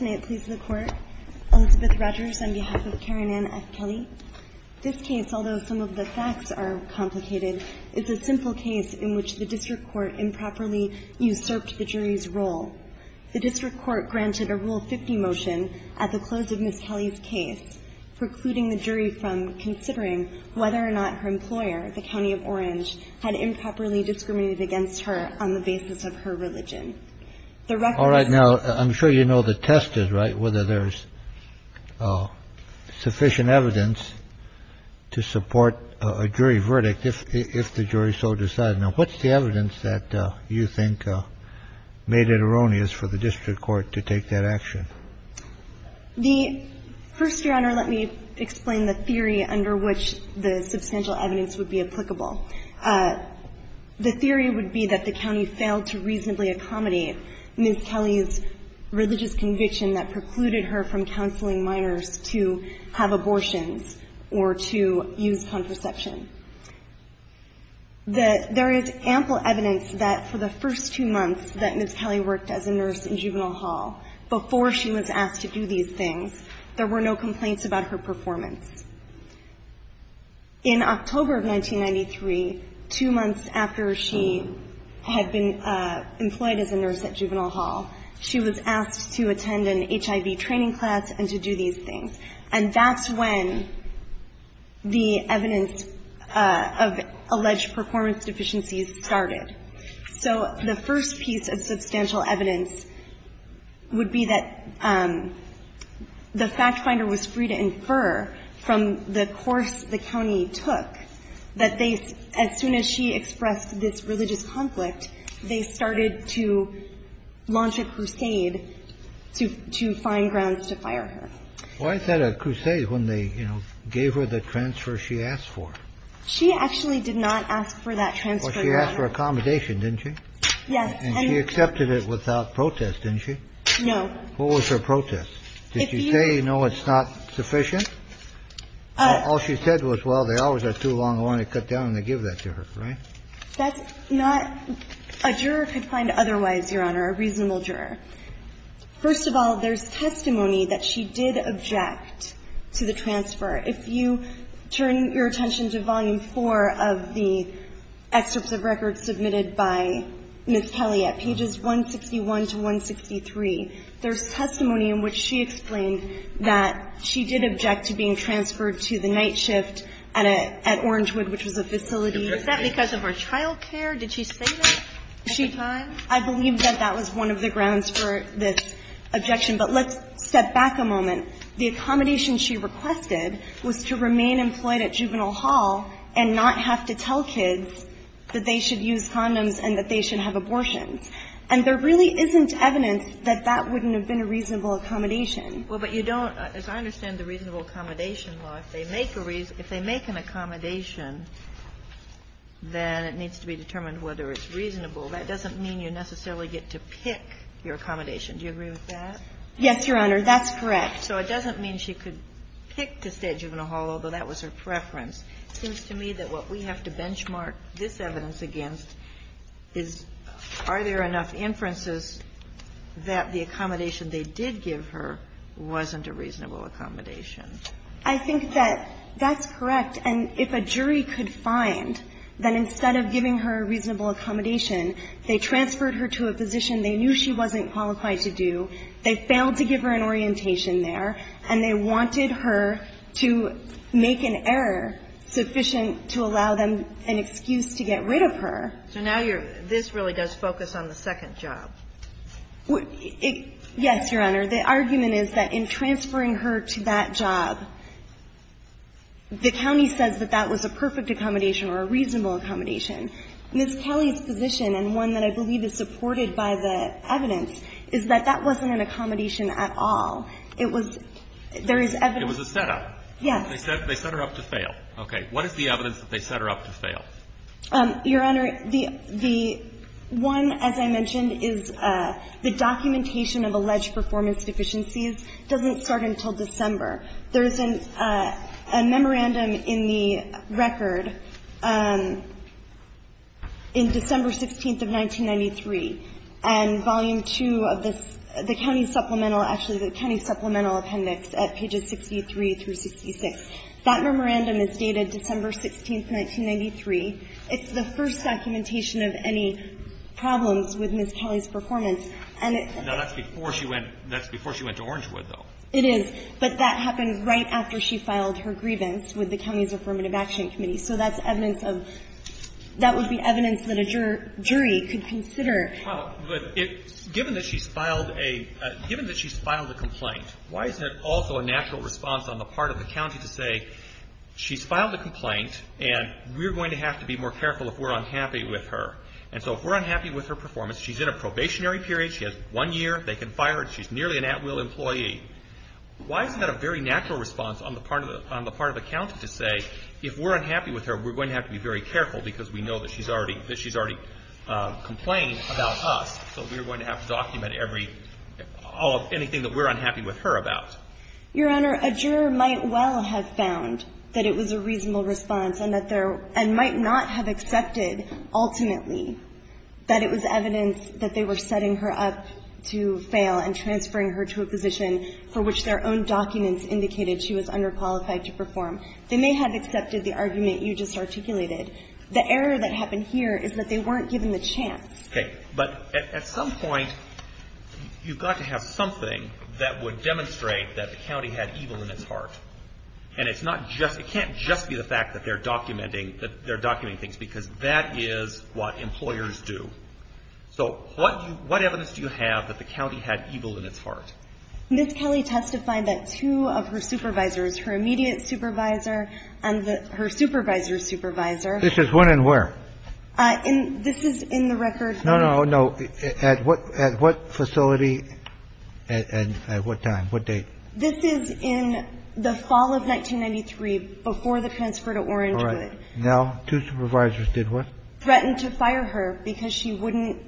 May it please the Court, Elizabeth Rogers on behalf of Karen Ann F. Kelley. This case, although some of the facts are complicated, is a simple case in which the District Court improperly usurped the jury's role. The District Court granted a Rule 50 motion at the close of Ms. Kelley's case, precluding the jury from considering whether or not her employer, the County of Orange, had improperly discriminated against her on the basis of her religion. The record is---- RAYLOR, O.H.: All right. Now, I'm sure you know the test is, right, whether there is sufficient evidence to support a jury verdict if the jury so decides so. Now, what's the evidence that you think made it erroneous for the District Court to take that action? TAYLOR, PTSI NUNINGHAM CO governee, onstance.com, 213inatoria, 5211161 The first, Your Honor, let me explain the theory under which a substantial evidence would be applicable. The theory would be that the county failed to reasonably accommodate Ms. Kelly's religious conviction that precluded her from counseling minors to have abortions or to use contraception. There is ample evidence that for the first two months that Ms. Kelly worked as a nurse in Juvenile Hall, before she was asked to do these things, there were no complaints about her performance. In October of 1993, two months after she had been employed as a nurse at Juvenile Hall, she was asked to attend an HIV training class and to do these things. And that's when the evidence of alleged performance deficiencies started. So the first piece of substantial evidence would be that the fact finder was free to infer from the course the county took that they, as soon as she expressed this religious conflict, they started to launch a crusade to find grounds to fire her. Well, I said a crusade when they, you know, gave her the transfer she asked for. She actually did not ask for that transfer, Your Honor. Well, she asked for accommodation, didn't she? Yes. And she accepted it without protest, didn't she? No. What was her protest? Did she say, no, it's not sufficient? All she said was, well, the hours are too long, I want to cut down, and they give that to her, right? That's not – a juror could find otherwise, Your Honor, a reasonable juror. First of all, there's testimony that she did object to the transfer. If you turn your attention to Volume 4 of the excerpts of records submitted by Ms. Kelly at pages 161 to 163, there's testimony in which she explained that she did object to being transferred to the night shift at Orangewood, which was a facility. Is that because of her child care? Did she say that at the time? I believe that that was one of the grounds for this objection. But let's step back a moment. The accommodation she requested was to remain employed at Juvenile Hall and not have to tell kids that they should use condoms and that they should have abortions. And there really isn't evidence that that wouldn't have been a reasonable accommodation. Well, but you don't – as I understand the reasonable accommodation law, if they make a – if they make an accommodation, then it needs to be determined whether it's reasonable. That doesn't mean you necessarily get to pick your accommodation. Do you agree with that? Yes, Your Honor. That's correct. So it doesn't mean she could pick to stay at Juvenile Hall, although that was her preference. It seems to me that what we have to benchmark this evidence against is are there enough inferences that the accommodation they did give her wasn't a reasonable accommodation? I think that that's correct. And if a jury could find that instead of giving her a reasonable accommodation, they transferred her to a position they knew she wasn't qualified to do, they failed to give her an orientation there, and they wanted her to make an error sufficient to allow them an excuse to get rid of her. So now you're – this really does focus on the second job. Yes, Your Honor. The argument is that in transferring her to that job, the county says that that was a perfect accommodation or a reasonable accommodation. Ms. Kelly's position, and one that I believe is supported by the evidence, is that that wasn't an accommodation at all. It was – there is evidence – It was a setup. Yes. They set her up to fail. Okay. What is the evidence that they set her up to fail? Your Honor, the – one, as I mentioned, is the documentation of alleged performance deficiencies doesn't start until December. There is a memorandum in the record in December 16th of 1993, and Volume 2 of this is the county supplemental – actually, the county supplemental appendix at pages 63 through 66. That memorandum is dated December 16th, 1993. It's the first documentation of any problems with Ms. Kelly's performance. And it's – Now, that's before she went – that's before she went to Orangewood, though. It is. But that happened right after she filed her grievance with the county's Affirmative Action Committee. So that's evidence of – that would be evidence that a jury could consider. Well, but it – given that she's filed a – given that she's filed a complaint, why isn't it also a natural response on the part of the county to say, she's filed a complaint, and we're going to have to be more careful if we're unhappy with her? And so if we're unhappy with her performance, she's in a probationary period, she has one year, they can fire her, and she's nearly an at-will employee. Why isn't that a very natural response on the part of the – on the part of the county to say, if we're unhappy with her, we're going to have to be very careful because we know that she's already – that she's already complained about us. So we're going to have to document every – all of – anything that we're unhappy with her about. Your Honor, a juror might well have found that it was a reasonable response and that there – and might not have accepted, ultimately, that it was evidence that they were setting her up to fail and transferring her to a position for which their own documents indicated she was underqualified to perform. They may have accepted the argument you just articulated. The error that happened here is that they weren't given the chance. Okay. But at some point, you've got to have something that would demonstrate that the county had evil in its heart. And it's not just – it can't just be the fact that they're documenting – that they're documenting things because that is what employers do. So what – what evidence do you have that the county had evil in its heart? Ms. Kelly testified that two of her supervisors, her immediate supervisor and the – This is when and where? In – this is in the record. No, no, no. At what facility and at what time, what date? This is in the fall of 1993, before the transfer to Orangewood. Correct. Now, two supervisors did what? Threatened to fire her because she wouldn't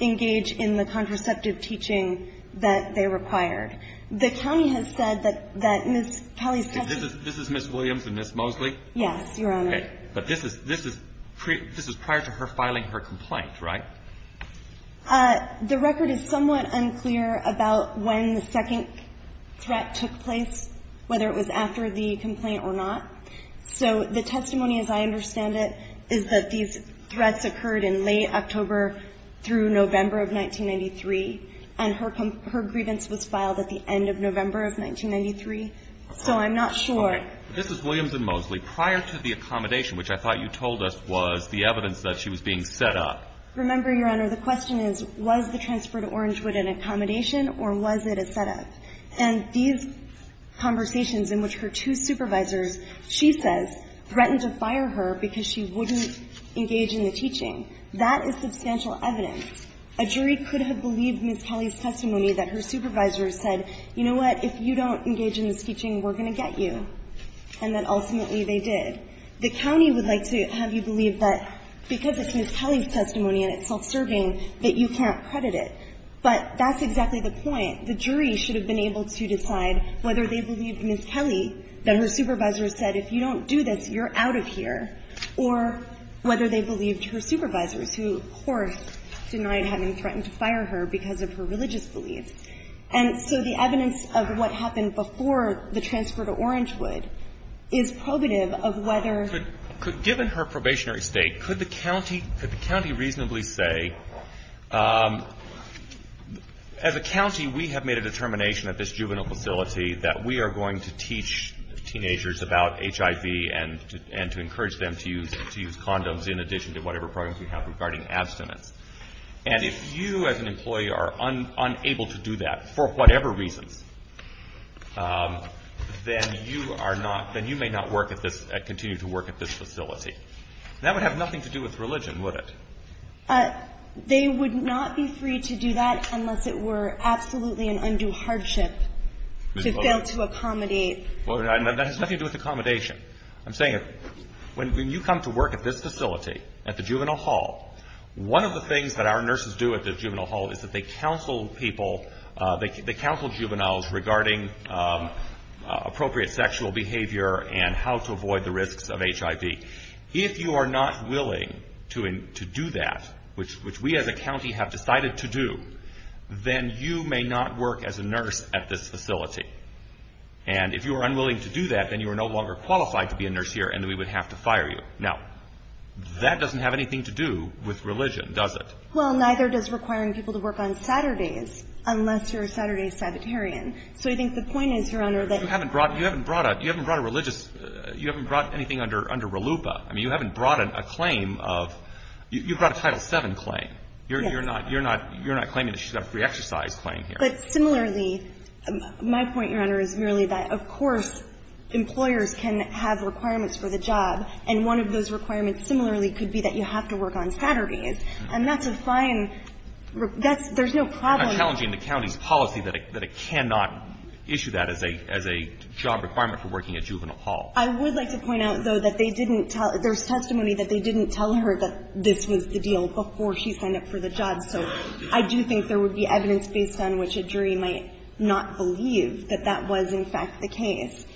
engage in the contraceptive teaching that they required. The county has said that Ms. Kelly's testimony – This is Ms. Williams and Ms. Mosley? Yes, Your Honor. Okay, but this is – this is prior to her filing her complaint, right? The record is somewhat unclear about when the second threat took place, whether it was after the complaint or not. So the testimony, as I understand it, is that these threats occurred in late October through November of 1993, and her grievance was filed at the end of November of 1993. So I'm not sure. This is Williams and Mosley. Prior to the accommodation, which I thought you told us was the evidence that she was being set up. Remember, Your Honor, the question is, was the transfer to Orangewood an accommodation or was it a set-up? And these conversations in which her two supervisors, she says, threatened to fire her because she wouldn't engage in the teaching, that is substantial evidence. A jury could have believed Ms. Kelly's testimony that her supervisors said, you know what, if you don't engage in this teaching, we're going to get you. And that ultimately they did. The county would like to have you believe that because it's Ms. Kelly's testimony and it's self-serving, that you can't credit it. But that's exactly the point. The jury should have been able to decide whether they believed Ms. Kelly, that her supervisors said, if you don't do this, you're out of here, or whether they believed her supervisors, who, of course, denied having threatened to fire her because of her religious beliefs. And so the evidence of what happened before the transfer to Orangewood is probative of whether ---- But given her probationary state, could the county reasonably say, as a county, we have made a determination at this juvenile facility that we are going to teach teenagers about HIV and to encourage them to use condoms in addition to whatever programs we have regarding abstinence. And if you as an employee are unable to do that for whatever reasons, then you are not, then you may not work at this, continue to work at this facility. That would have nothing to do with religion, would it? They would not be free to do that unless it were absolutely an undue hardship to fail to accommodate. That has nothing to do with accommodation. I'm saying, when you come to work at this facility, at the juvenile hall, one of the things that our nurses do at the juvenile hall is that they counsel people, they counsel juveniles regarding appropriate sexual behavior and how to avoid the risks of HIV. If you are not willing to do that, which we as a county have decided to do, then you may not work as a nurse at this facility. And if you are unwilling to do that, then you are no longer qualified to be a nurse here and we would have to fire you. Now, that doesn't have anything to do with religion, does it? Well, neither does requiring people to work on Saturdays, unless you are a Saturday sabbatarian. So I think the point is, Your Honor, that you haven't brought a religious, you haven't brought anything under RLUIPA. I mean, you haven't brought a claim of, you brought a Title VII claim. You're not claiming that she's got a free exercise claim here. But similarly, my point, Your Honor, is merely that, of course, employers can have requirements for the job, and one of those requirements, similarly, could be that you have to work on Saturdays. And that's a fine, that's, there's no problem. But I'm challenging the county's policy that it cannot issue that as a job requirement for working at Juvenile Hall. I would like to point out, though, that they didn't tell, there's testimony that they didn't tell her that this was the deal before she signed up for the job. So I do think there would be evidence based on which a jury might not believe that that was, in fact, the case.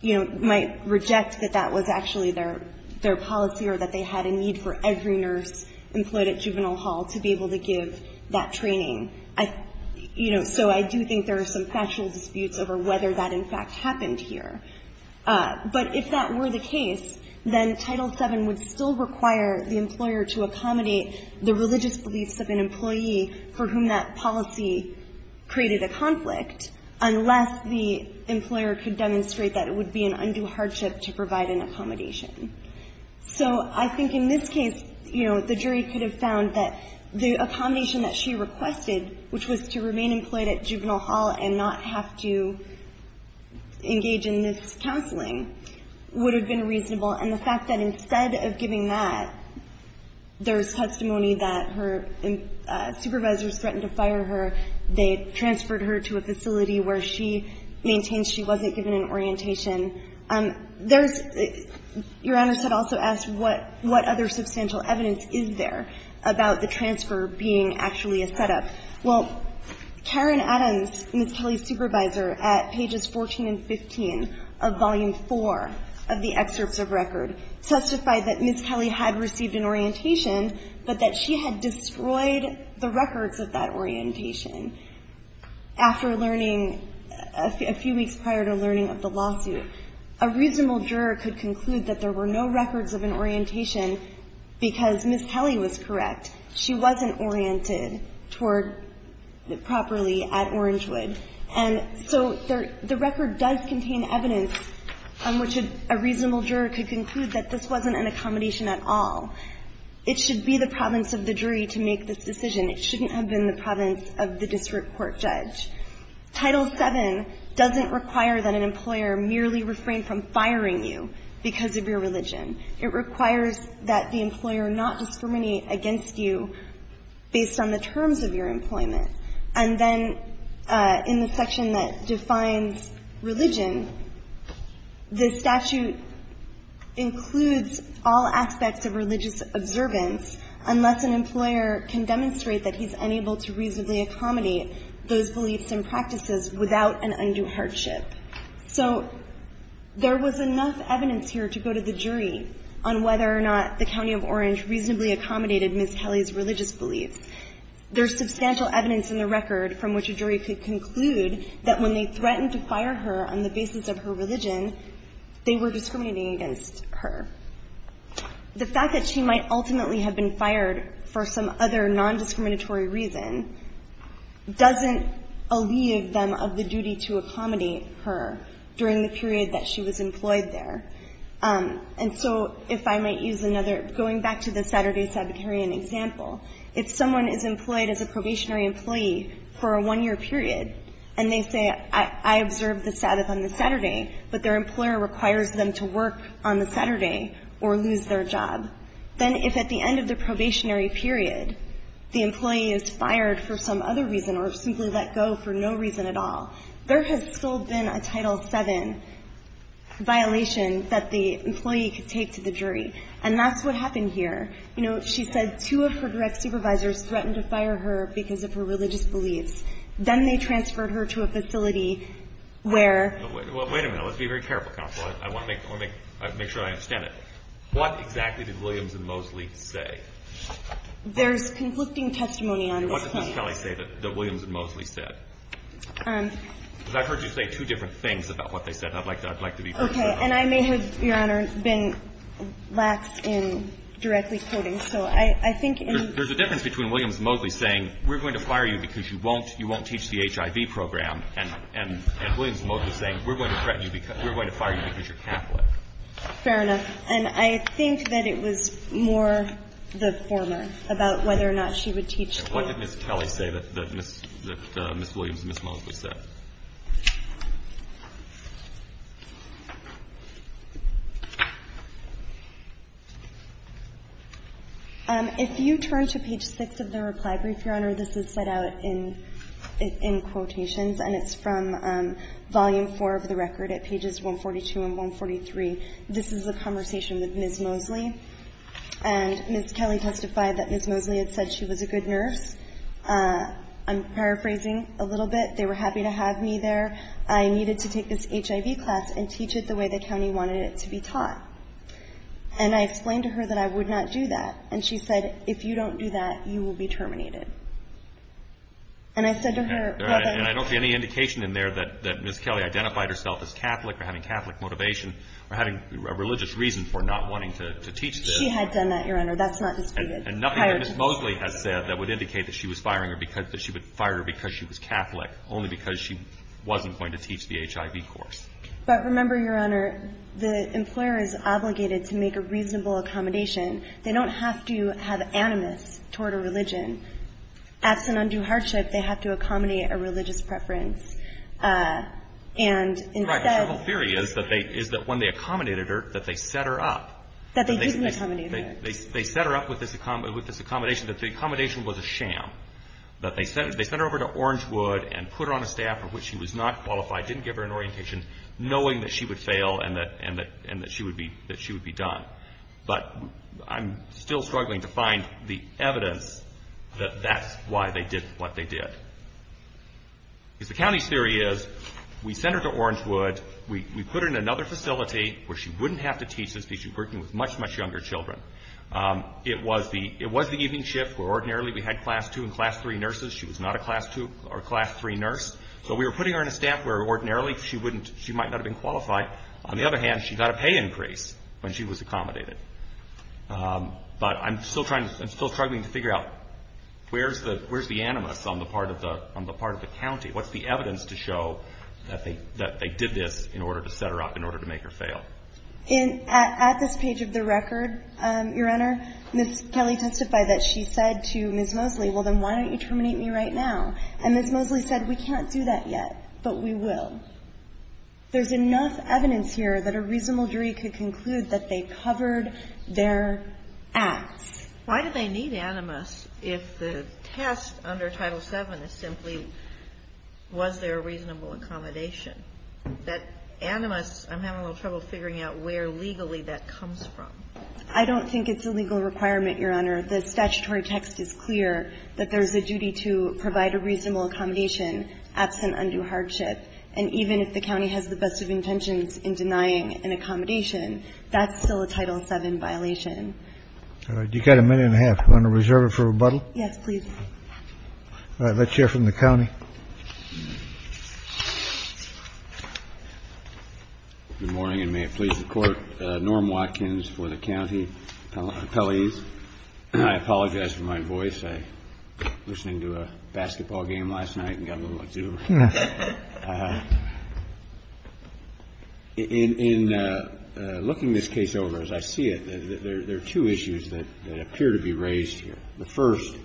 You know, might reject that that was actually their policy or that they had a need for every nurse employed at Juvenile Hall to be able to give that training. I, you know, so I do think there are some factual disputes over whether that, in fact, happened here. But if that were the case, then Title VII would still require the employer to accommodate the religious beliefs of an employee for whom that policy created a conflict, unless the employer could demonstrate that it would be an undue hardship to provide an accommodation. So I think in this case, you know, the jury could have found that the accommodation that she requested, which was to remain employed at Juvenile Hall and not have to engage in this counseling, would have been reasonable. And the fact that instead of giving that, there's testimony that her supervisors threatened to fire her, they transferred her to a facility where she maintains she wasn't given an orientation. There's the – Your Honors had also asked what other substantial evidence is there about the transfer being actually a setup. Well, Karen Adams, Ms. Kelly's supervisor, at pages 14 and 15 of Volume IV of the Excerpts of Record, testified that Ms. Kelly had received an orientation, but that she had destroyed the records of that orientation after learning – a few weeks prior to learning of the lawsuit. A reasonable juror could conclude that there were no records of an orientation because Ms. Kelly was correct. She wasn't oriented toward – properly at Orangewood. And so the record does contain evidence on which a reasonable juror could conclude that this wasn't an accommodation at all. It should be the province of the jury to make this decision. It shouldn't have been the province of the district court judge. Title VII doesn't require that an employer merely refrain from firing you because of your religion. It requires that the employer not discriminate against you based on the terms of your employment. And then in the section that defines religion, the statute includes all aspects of religious observance unless an employer can demonstrate that he's unable to reasonably accommodate those beliefs and practices without an undue hardship. So there was enough evidence here to go to the jury on whether or not the county of Orange reasonably accommodated Ms. Kelly's religious beliefs. There's substantial evidence in the record from which a jury could conclude that when they threatened to fire her on the basis of her religion, they were discriminating against her. The fact that she might ultimately have been fired for some other nondiscriminatory reason doesn't alleviate them of the duty to accommodate her during the period that she was employed there. And so if I might use another – going back to the Saturday Sabbatarian example, if someone is employed as a probationary employee for a one-year period and they say, I observed the Sabbath on the Saturday, but their employer requires them to work on the Saturday or lose their job, then if at the end of the probationary period the employee is fired for some other reason or simply let go for no reason at all, there has still been a Title VII violation that the employee could take to the jury. And that's what happened here. You know, she said two of her direct supervisors threatened to fire her because of her religious beliefs. Then they transferred her to a facility where – I want to make sure I understand it. What exactly did Williams and Moseley say? There's conflicting testimony on this point. What did Ms. Kelly say that Williams and Moseley said? Because I've heard you say two different things about what they said. I'd like to be very clear on that. Okay. And I may have, Your Honor, been lax in directly quoting. So I think in – There's a difference between Williams and Moseley saying, we're going to fire you because you won't teach the HIV program, and Williams and Moseley saying, we're going to threaten you because – we're going to fire you because you're Catholic. Fair enough. And I think that it was more the former about whether or not she would teach. And what did Ms. Kelly say that Ms. Williams and Ms. Moseley said? If you turn to page 6 of the reply brief, Your Honor, this is set out in – in quotations, and it's from volume 4 of the record at pages 142 and 143. This is a conversation with Ms. Moseley. And Ms. Kelly testified that Ms. Moseley had said she was a good nurse. I'm paraphrasing a little bit. They were happy to have me there. I needed to take this HIV class and teach it the way the county wanted it to be taught. And I explained to her that I would not do that. And she said, if you don't do that, you will be terminated. And I said to her – And I don't see any indication in there that Ms. Kelly identified herself as Catholic or having Catholic motivation or having a religious reason for not wanting to teach this. She had done that, Your Honor. That's not disputed. And nothing that Ms. Moseley has said that would indicate that she was firing her because – that she would fire her because she was Catholic, only because she wasn't going to teach the HIV course. But remember, Your Honor, the employer is obligated to make a reasonable accommodation. They don't have to have animus toward a religion. Absent undue hardship, they have to accommodate a religious preference. And instead – The whole theory is that when they accommodated her, that they set her up. That they didn't accommodate her. They set her up with this accommodation, that the accommodation was a sham. That they sent her over to Orangewood and put her on a staff for which she was not qualified, didn't give her an orientation, knowing that she would fail and that she would be done. But I'm still struggling to find the evidence that that's why they did what they did. Because the county's theory is, we sent her to Orangewood, we put her in another facility where she wouldn't have to teach this because she was working with much, much younger children. It was the evening shift where ordinarily we had class 2 and class 3 nurses. She was not a class 2 or class 3 nurse. So we were putting her in a staff where ordinarily she wouldn't – she might not have been qualified. On the other hand, she got a pay increase when she was accommodated. But I'm still trying – I'm still struggling to figure out where's the animus on the part of the county? What's the evidence to show that they did this in order to set her up, in order to make her fail? At this page of the record, Your Honor, Ms. Kelly testified that she said to Ms. Mosley, well, then why don't you terminate me right now? And Ms. Mosley said, we can't do that yet, but we will. There's enough evidence here that a reasonable jury could conclude that they covered their acts. Why do they need animus if the test under Title VII is simply was there a reasonable accommodation? That animus, I'm having a little trouble figuring out where legally that comes from. I don't think it's a legal requirement, Your Honor. The statutory text is clear that there's a duty to provide a reasonable accommodation absent undue hardship. And even if the county has the best of intentions in denying an accommodation, that's still a Title VII violation. All right. You've got a minute and a half. You want to reserve it for rebuttal? Yes, please. All right. Let's hear from the county. Good morning, and may it please the Court. Norm Watkins for the county appellees. I apologize for my voice. I was listening to a basketball game last night and got a little exhuberant. In looking this case over, as I see it, there are two issues that appear to be raised here. The first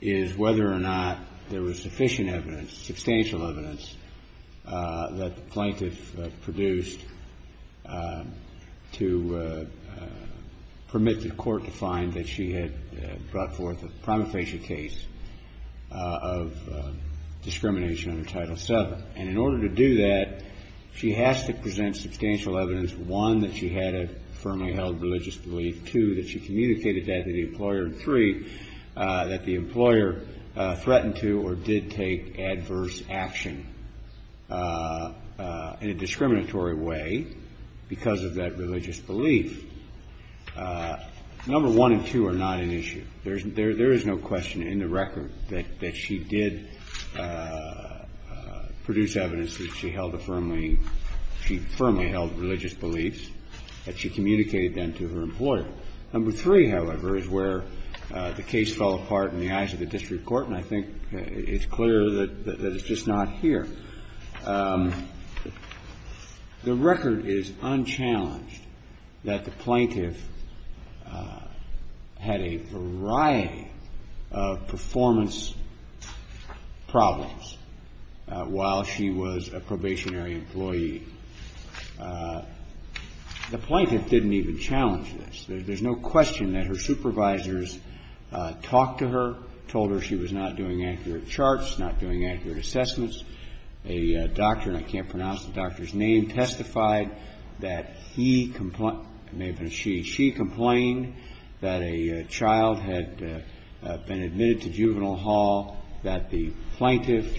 is whether or not there was sufficient evidence, substantial evidence, that the plaintiff produced to permit the Court to find that she had brought forth a prima facie case of discrimination under Title VII. And in order to do that, she has to present substantial evidence, one, that she had a firmly held religious belief, two, that she communicated that to the employer, and three, that the employer threatened to or did take adverse action in a discriminatory way because of that religious belief. Number one and two are not an issue. There is no question in the record that she did produce evidence that she held a firmly – she firmly held religious beliefs, that she communicated them to her employer. Number three, however, is where the case fell apart in the eyes of the district court, and I think it's clear that it's just not here. The record is unchallenged that the plaintiff had a variety of performance problems while she was a probationary employee. The plaintiff didn't even challenge this. There's no question that her supervisors talked to her, told her she was not doing accurate assessments. A doctor, and I can't pronounce the doctor's name, testified that he – maybe it was she. She complained that a child had been admitted to juvenile hall, that the plaintiff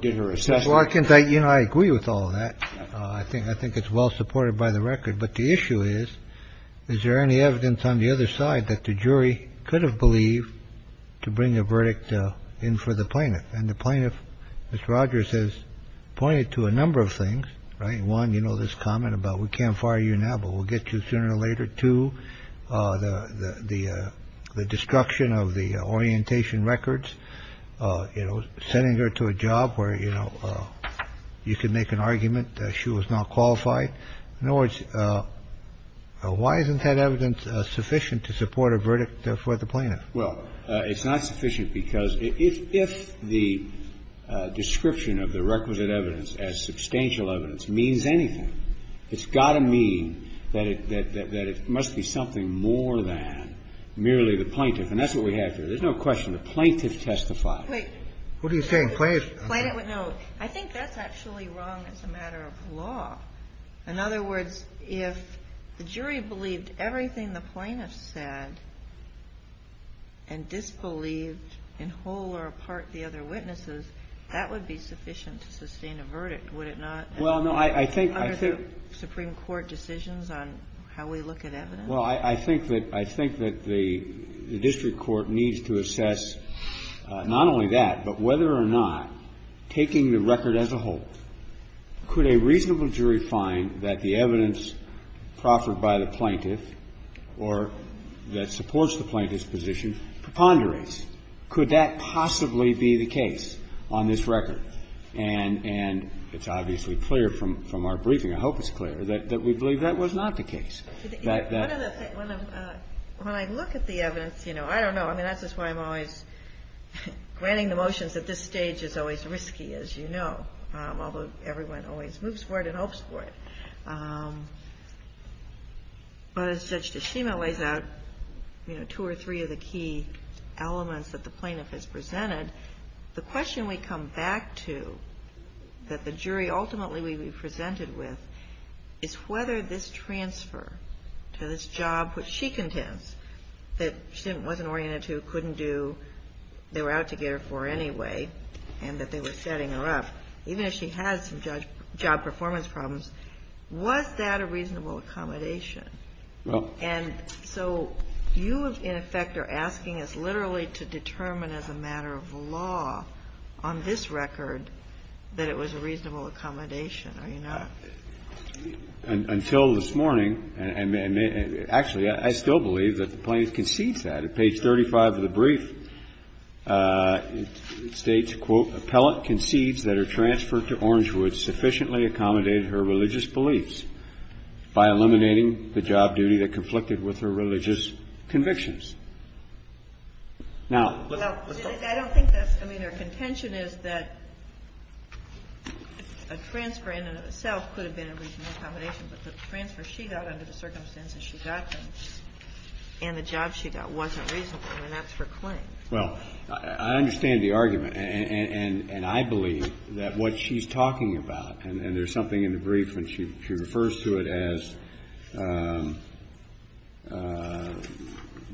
did her assessments. Well, I can tell you I agree with all of that. I think it's well supported by the record. But the issue is, is there any evidence on the other side that the jury could have believed to bring a verdict in for the plaintiff? And the plaintiff, Ms. Rogers, has pointed to a number of things, right? One, you know, this comment about we can't fire you now, but we'll get you sooner or later. Two, the destruction of the orientation records, you know, sending her to a job where, you know, you can make an argument that she was not qualified. In other words, why isn't that evidence sufficient to support a verdict for the plaintiff? Well, it's not sufficient because if the description of the requisite evidence as substantial evidence means anything, it's got to mean that it must be something more than merely the plaintiff. And that's what we have here. There's no question. The plaintiff testified. Wait. What are you saying? Plaintiff? No. I think that's actually wrong as a matter of law. In other words, if the jury believed everything the plaintiff said and disbelieved in whole or part the other witnesses, that would be sufficient to sustain a verdict, would it not? Well, no. I think the Supreme Court decisions on how we look at evidence. Well, I think that the district court needs to assess not only that, but whether or not, taking the record as a whole, could a reasonable jury find that the evidence proffered by the plaintiff or that supports the plaintiff's position preponderates? Could that possibly be the case on this record? And it's obviously clear from our briefing, I hope it's clear, that we believe that was not the case. When I look at the evidence, you know, I don't know. I mean, that's just why I'm always granting the motions at this stage is always risky, as you know, although everyone always moves for it and hopes for it. But as Judge Tashima lays out, you know, two or three of the key elements that the plaintiff has presented, the question we come back to that the jury ultimately will be presented with is whether this transfer to this job which she contends that she wasn't oriented to, couldn't do, they were out to get her for anyway, and that they were setting her up, even if she had some job performance problems, was that a reasonable accommodation? And so you, in effect, are asking us literally to determine as a matter of law on this record that it was a reasonable accommodation, are you not? Until this morning, actually, I still believe that the plaintiff concedes that. At page 35 of the brief, it states, quote, Appellant concedes that her transfer to Orangewood sufficiently accommodated her religious beliefs by eliminating the job duty that conflicted with her religious convictions. Now, let's go. I mean, a transfer in and of itself could have been a reasonable accommodation, but the transfer she got under the circumstances she got them and the job she got wasn't reasonable. I mean, that's her claim. Well, I understand the argument. And I believe that what she's talking about, and there's something in the brief and she refers to it as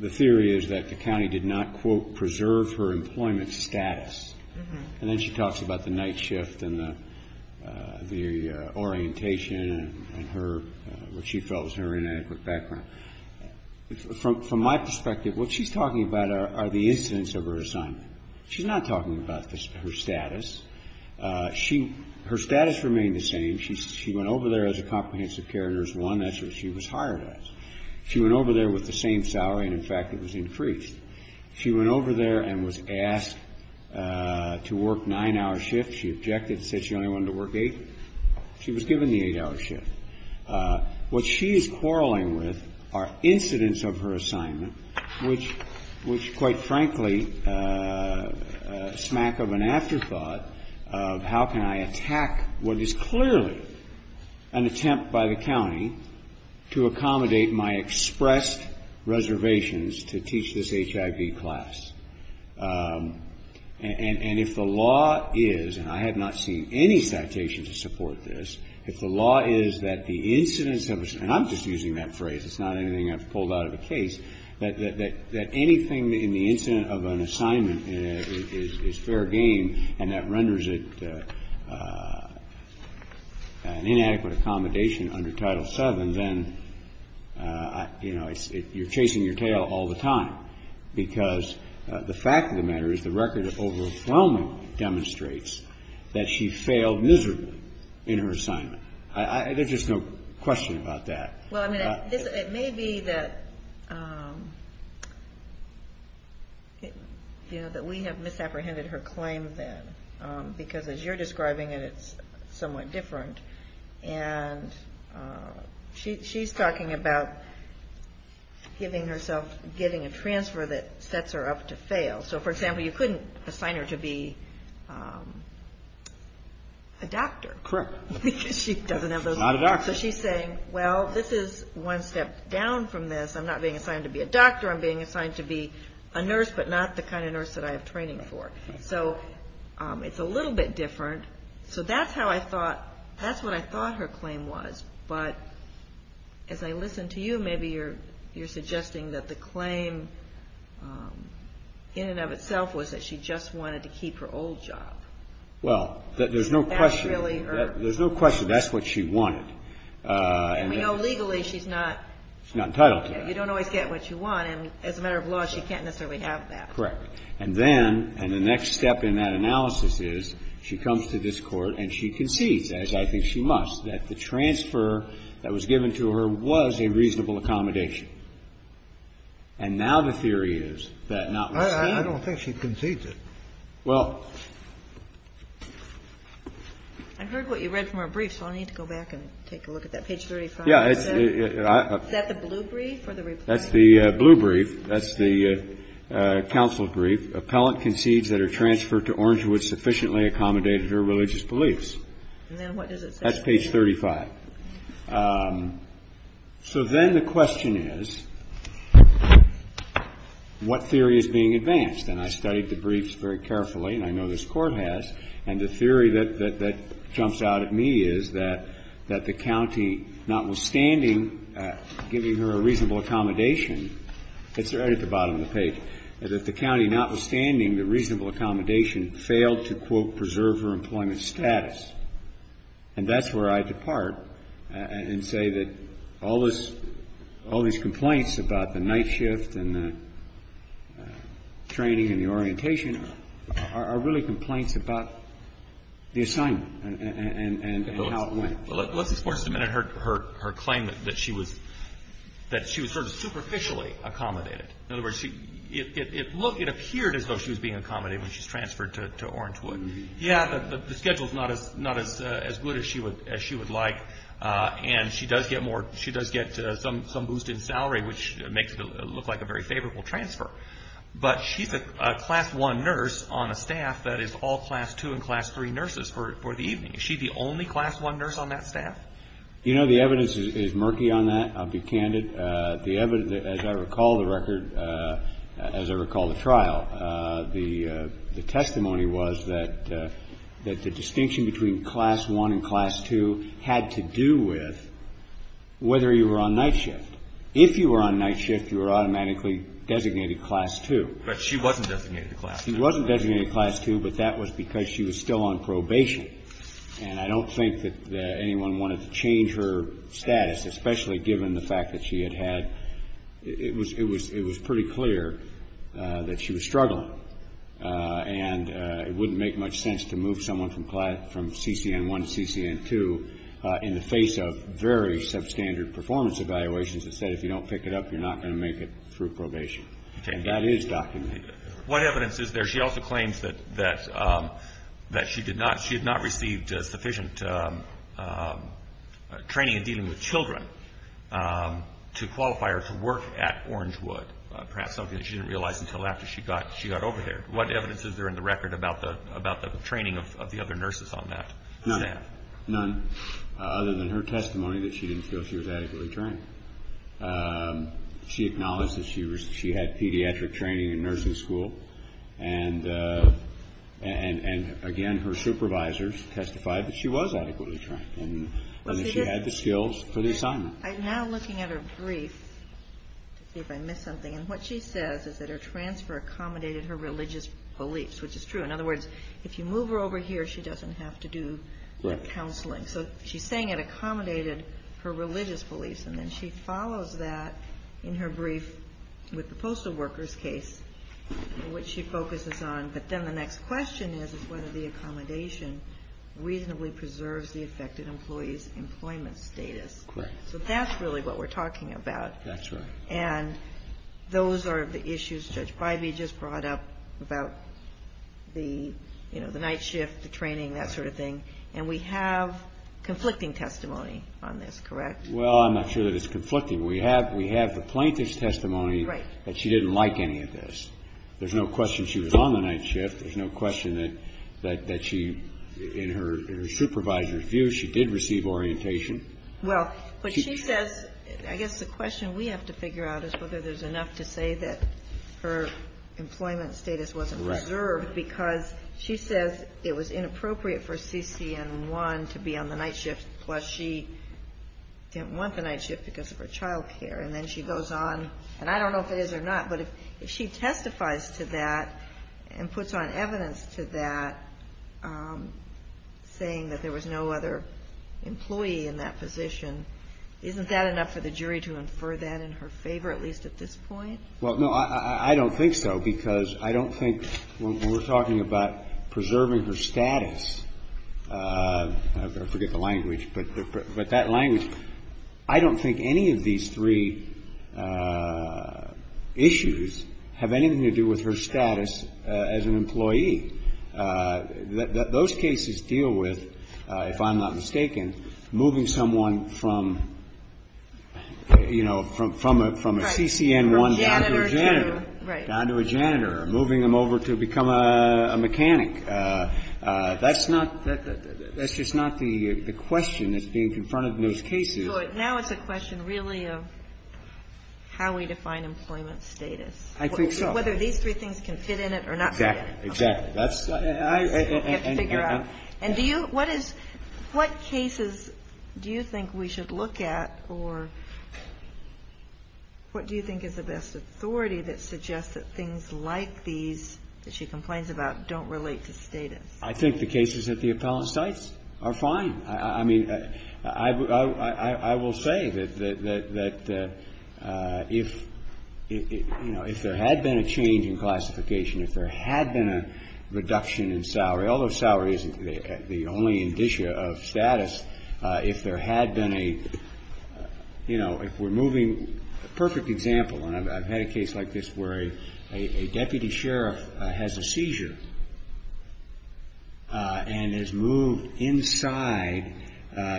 the theory is that the county did not, quote, preserve her employment status. And then she talks about the night shift and the orientation and her, what she felt was her inadequate background. From my perspective, what she's talking about are the incidents of her assignment. She's not talking about her status. She – her status remained the same. She went over there as a comprehensive care nurse. One, that's what she was hired as. She went over there with the same salary and, in fact, it was increased. She went over there and was asked to work nine-hour shifts. She objected, said she only wanted to work eight. She was given the eight-hour shift. What she is quarreling with are incidents of her assignment, which, quite frankly, smack of an afterthought of how can I attack what is clearly an attempt by the county to accommodate my expressed reservations to teach this HIV class. And if the law is, and I have not seen any citation to support this, if the law is that the incidents of – and I'm just using that phrase. It's not anything I've pulled out of a case. That anything in the incident of an assignment is fair game and that renders it an inadequate accommodation under Title VII, then, you know, you're chasing your tail all the time. Because the fact of the matter is the record of overwhelming demonstrates that she failed miserably in her assignment. There's just no question about that. Well, I mean, it may be that, you know, that we have misapprehended her claim then. Because as you're describing it, it's somewhat different. And she's talking about giving herself – getting a transfer that sets her up to fail. So, for example, you couldn't assign her to be a doctor. Correct. Because she doesn't have those – She's not a doctor. So she's saying, well, this is one step down from this. I'm not being assigned to be a doctor. I'm being assigned to be a nurse, but not the kind of nurse that I have training for. So it's a little bit different. So that's how I thought – that's what I thought her claim was. But as I listen to you, maybe you're suggesting that the claim in and of itself was that she just wanted to keep her old job. Well, there's no question. That really hurt. There's no question that's what she wanted. And we know legally she's not – She's not entitled to that. You don't always get what you want. And as a matter of law, she can't necessarily have that. Correct. And then – and the next step in that analysis is she comes to this Court and she concedes, as I think she must, that the transfer that was given to her was a reasonable accommodation. And now the theory is that not – I don't think she concedes it. Well – I heard what you read from her brief, so I need to go back and take a look at that. Page 35. Yeah. Is that the blue brief or the reply? That's the blue brief. That's the counsel's brief. Appellant concedes that her transfer to Orangewood sufficiently accommodated her religious beliefs. And then what does it say? That's page 35. So then the question is, what theory is being advanced? And I studied the briefs very carefully, and I know this Court has, and the theory that jumps out at me is that the county, notwithstanding giving her a reasonable accommodation – it's right at the bottom of the page – that the county, notwithstanding the reasonable accommodation, failed to, quote, preserve her employment status. And that's where I depart and say that all this – all these complaints about the orientation are really complaints about the assignment and how it went. Well, let's explore just a minute her claim that she was sort of superficially accommodated. In other words, it appeared as though she was being accommodated when she was transferred to Orangewood. Yeah, but the schedule's not as good as she would like, and she does get some boost in salary, which makes it look like a very favorable transfer. But she's a class one nurse on a staff that is all class two and class three nurses for the evening. Is she the only class one nurse on that staff? You know, the evidence is murky on that. I'll be candid. As I recall the record, as I recall the trial, the testimony was that the distinction between class one and class two had to do with whether you were on night shift. If you were on night shift, you were automatically designated class two. But she wasn't designated class two. She wasn't designated class two, but that was because she was still on probation. And I don't think that anyone wanted to change her status, especially given the fact that she had had – it was pretty clear that she was struggling. And it wouldn't make much sense to move someone from CCN1 to CCN2 in the face of very substandard performance evaluations that said if you don't pick it up, you're not going to make it through probation. And that is documented. What evidence is there? She also claims that she did not – she had not received sufficient training in dealing with children to qualify her to work at Orangewood, perhaps something that she didn't realize until after she got over there. What evidence is there in the record about the training of the other nurses on that staff? None. Other than her testimony that she didn't feel she was adequately trained. She acknowledged that she had pediatric training in nursing school. And, again, her supervisors testified that she was adequately trained and that she had the skills for the assignment. I'm now looking at her brief to see if I missed something, and what she says is that her transfer accommodated her religious beliefs, which is true. In other words, if you move her over here, she doesn't have to do counseling. So she's saying it accommodated her religious beliefs, and then she follows that in her brief with the postal workers case, which she focuses on. But then the next question is whether the accommodation reasonably preserves the affected employee's employment status. Correct. So that's really what we're talking about. That's right. And those are the issues Judge Bivey just brought up about the, you know, the night shift, the training, that sort of thing. And we have conflicting testimony on this, correct? Well, I'm not sure that it's conflicting. We have the plaintiff's testimony that she didn't like any of this. There's no question she was on the night shift. There's no question that she, in her supervisor's view, she did receive orientation. Well, but she says, I guess the question we have to figure out is whether there's enough to say that her employment status wasn't preserved because she says it was inappropriate for CCN1 to be on the night shift, plus she didn't want the night shift because of her child care. And then she goes on, and I don't know if it is or not, but if she testifies to that and puts on evidence to that, saying that there was no other employee in that position, isn't that enough for the jury to infer that in her favor, at least at this point? Well, no, I don't think so because I don't think when we're talking about preserving her status, I forget the language, but that language, I don't think any of these three issues have anything to do with her status as an employee. Those cases deal with, if I'm not mistaken, moving someone from, you know, from a CCN1 down to a janitor. Right. Down to a janitor. Moving them over to become a mechanic. That's not, that's just not the question that's being confronted in those cases. Now it's a question really of how we define employment status. I think so. Whether these three things can fit in it or not fit in it. Exactly. You have to figure out. And do you, what is, what cases do you think we should look at or what do you think is the best authority that suggests that things like these that she complains about don't relate to status? I think the cases that the appellant cites are fine. I mean, I will say that if, you know, if there had been a change in classification, if there had been a reduction in salary, although salary isn't the only indicia of status, if there had been a, you know, if we're moving, a perfect example, and I've had a case like this where a deputy sheriff has a seizure and is moved inside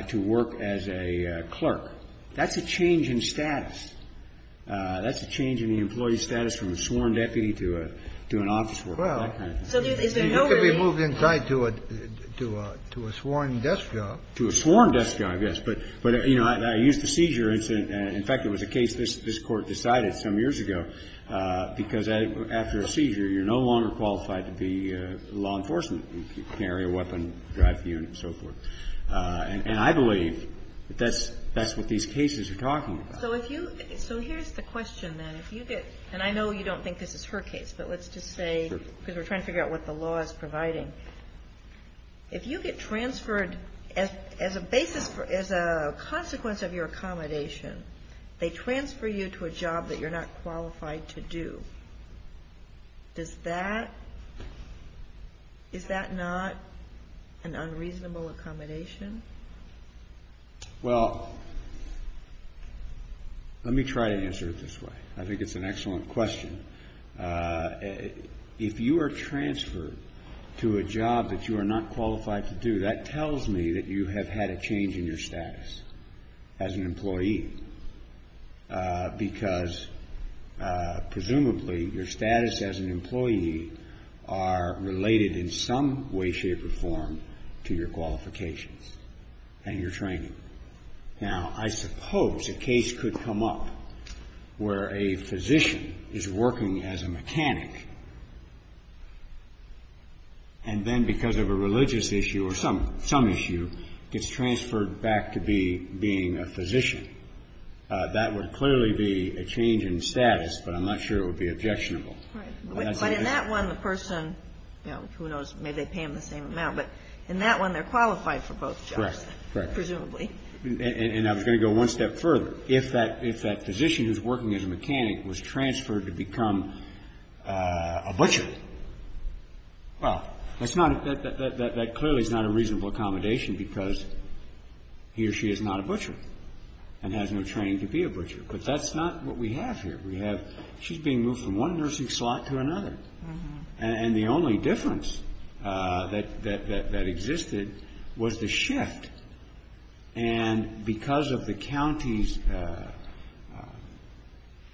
to work as a clerk. That's a change in status. That's a change in the employee status from a sworn deputy to an office worker, that kind of thing. Well, so there's, is there no reason. He could be moved inside to a sworn desk job. To a sworn desk job, yes. But, you know, I used the seizure incident. In fact, it was a case this Court decided some years ago because after a seizure, you're no longer qualified to be law enforcement. You can carry a weapon, drive the unit, and so forth. And I believe that that's what these cases are talking about. So if you, so here's the question, then. If you get, and I know you don't think this is her case, but let's just say, because we're trying to figure out what the law is providing. If you get transferred as a basis for, as a consequence of your accommodation, they transfer you to a job that you're not qualified to do. Does that, is that not an unreasonable accommodation? Well, let me try to answer it this way. I think it's an excellent question. If you are transferred to a job that you are not qualified to do, that tells me that you have had a change in your status as an employee. Because presumably your status as an employee are related in some way, to your qualifications and your training. Now, I suppose a case could come up where a physician is working as a mechanic and then because of a religious issue or some issue, gets transferred back to being a physician. That would clearly be a change in status, but I'm not sure it would be objectionable. But in that one, the person, who knows, maybe they pay him the same amount. But in that one, they're qualified for both jobs. Correct. Presumably. And I was going to go one step further. If that physician who's working as a mechanic was transferred to become a butcher, well, that's not, that clearly is not a reasonable accommodation, because he or she is not a butcher and has no training to be a butcher. But that's not what we have here. She's being moved from one nursing slot to another. And the only difference that existed was the shift. And because of the county's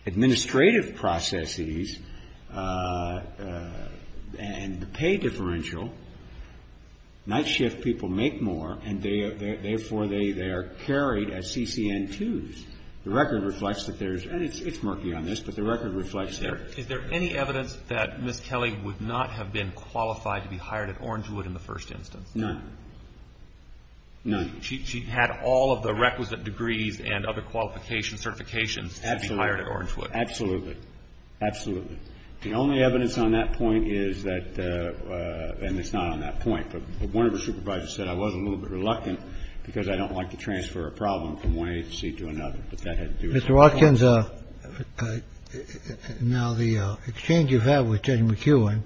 administrative processes and the pay differential, night shift people make more and, therefore, they are carried as CCN2s. The record reflects that there's, and it's murky on this, but the record reflects that. Is there any evidence that Ms. Kelly would not have been qualified to be hired at Orangewood in the first instance? None. None. She had all of the requisite degrees and other qualifications, certifications to be hired at Orangewood. Absolutely. Absolutely. The only evidence on that point is that, and it's not on that point, but one of the supervisors said I was a little bit reluctant because I don't like to transfer a problem from one agency to another. Mr. Watkins, now the exchange you've had with Judge McEwen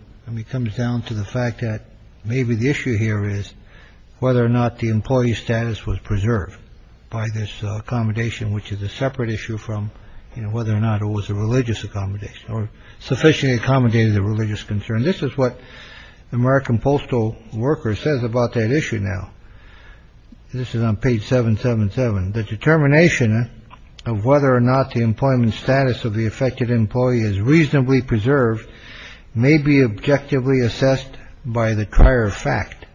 comes down to the fact that maybe the issue here is whether or not the employee status was preserved by this accommodation, which is a separate issue from whether or not it was a religious accommodation or sufficiently accommodated the religious concern. This is what the American Postal Worker says about that issue. Now, this is on page seven, seven, seven. The determination of whether or not the employment status of the affected employee is reasonably preserved may be objectively assessed by the prior fact.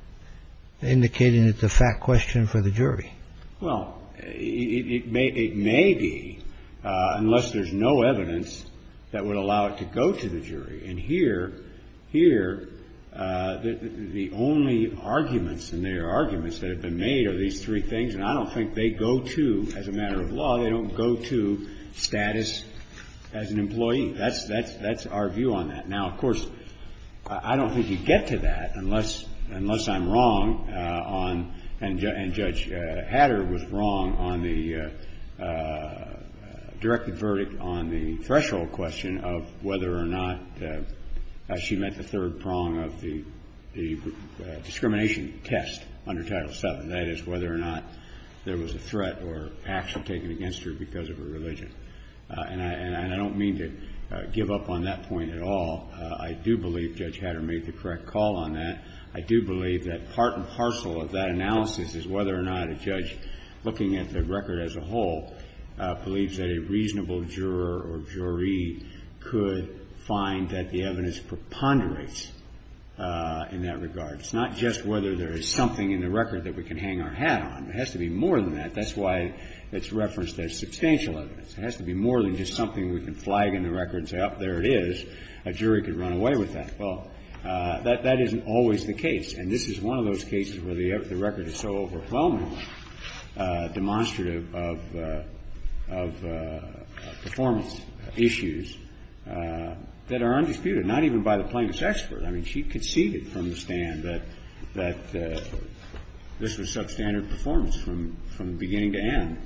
Indicating it's a fact question for the jury. Well, it may it may be unless there's no evidence that would allow it to go to the jury. And here, here, the only arguments in their arguments that have been made are these three things, and I don't think they go to, as a matter of law, they don't go to status as an employee. That's our view on that. Now, of course, I don't think you get to that unless I'm wrong on, and Judge Hatter was wrong, on the directed verdict on the threshold question of whether or not she met the third prong of the discrimination test under Title VII. That is whether or not there was a threat or action taken against her because of her religion. And I don't mean to give up on that point at all. I do believe Judge Hatter made the correct call on that. I do believe that part and parcel of that analysis is whether or not a judge looking at the record as a whole believes that a reasonable juror or jury could find that the evidence preponderates in that regard. It's not just whether there is something in the record that we can hang our hat on. It has to be more than that. That's why it's referenced as substantial evidence. It has to be more than just something we can flag in the record and say, oh, there it is. A jury could run away with that. Well, that isn't always the case. And this is one of those cases where the record is so overwhelmingly demonstrative of performance issues that are undisputed, not even by the plaintiff's expert. I mean, she conceded from the stand that this was substandard performance from beginning to end.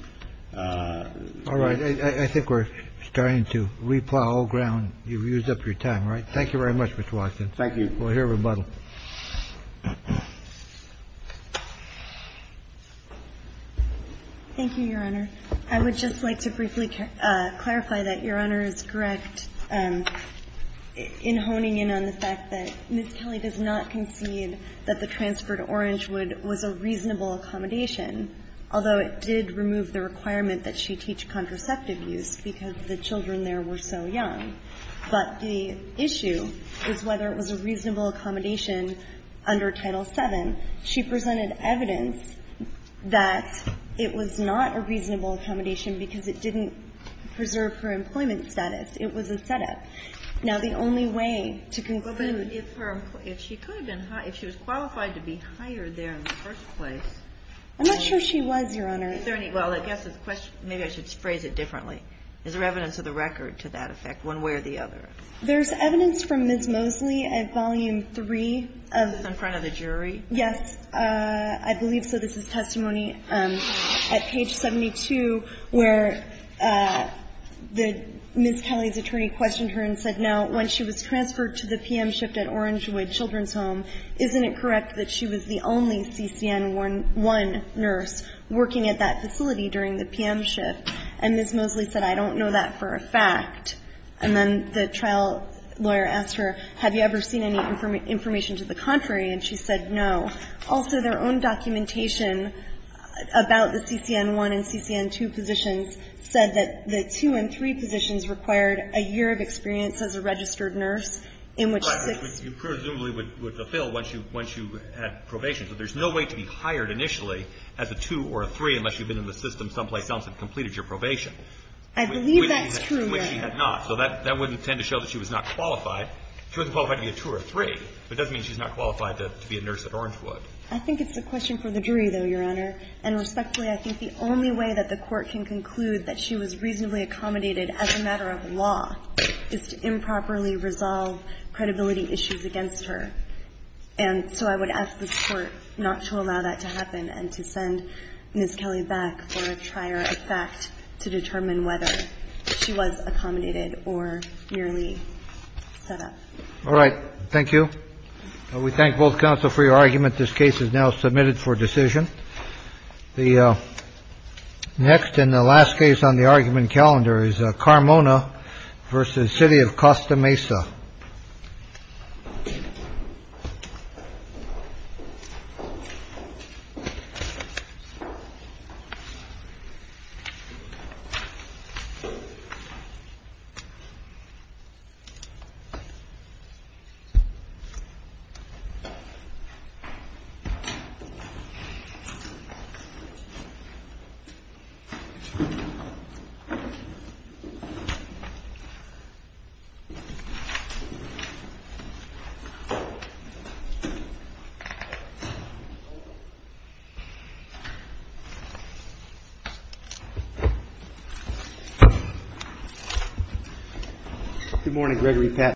All right. I think we're starting to replow old ground. You've used up your time. All right. Thank you very much, Mr. Washington. Thank you. We'll hear rebuttal. Thank you, Your Honor. I would just like to briefly clarify that Your Honor is correct in honing in on the fact that Ms. Kelly does not concede that the transfer to Orangewood was a reasonable accommodation, although it did remove the requirement that she teach contraceptive use because the children there were so young. But the issue is whether it was a reasonable accommodation under Title VII. She presented evidence that it was not a reasonable accommodation because it didn't preserve her employment status. It was a setup. Now, the only way to conclude that she could have been hired, if she was qualified to be hired there in the first place. I'm not sure she was, Your Honor. Is there any, well, I guess the question, maybe I should phrase it differently. Is there evidence of the record to that effect one way or the other? There's evidence from Ms. Mosley at Volume III. Is this in front of the jury? Yes. I believe so. This is testimony at page 72 where Ms. Kelly's attorney questioned her and said, no, when she was transferred to the PM shift at Orangewood Children's Home, isn't it correct that she was the only CCN1 nurse working at that facility during the PM shift? And Ms. Mosley said, I don't know that for a fact. And then the trial lawyer asked her, have you ever seen any information to the contrary? And she said, no. Also, their own documentation about the CCN1 and CCN2 positions said that the two and three positions required a year of experience as a registered nurse in which you presumably would fulfill once you had probation. So there's no way to be hired initially as a two or a three unless you've been in the system someplace else and completed your probation. I believe that's true, Your Honor. Which she had not. So that wouldn't tend to show that she was not qualified. She wasn't qualified to be a two or a three, but it doesn't mean she's not qualified to be a nurse at Orangewood. I think it's a question for the jury, though, Your Honor. And respectfully, I think the only way that the Court can conclude that she was reasonably accommodated as a matter of law is to improperly resolve credibility issues against her. And so I would ask the Court not to allow that to happen and to send Ms. Kelly back for a trier of fact to determine whether she was accommodated or merely set up. All right. Thank you. We thank both counsel for your argument. This case is now submitted for decision. The next and the last case on the argument calendar is Carmona versus city of Costa Mesa. Good morning, Gregory Papp.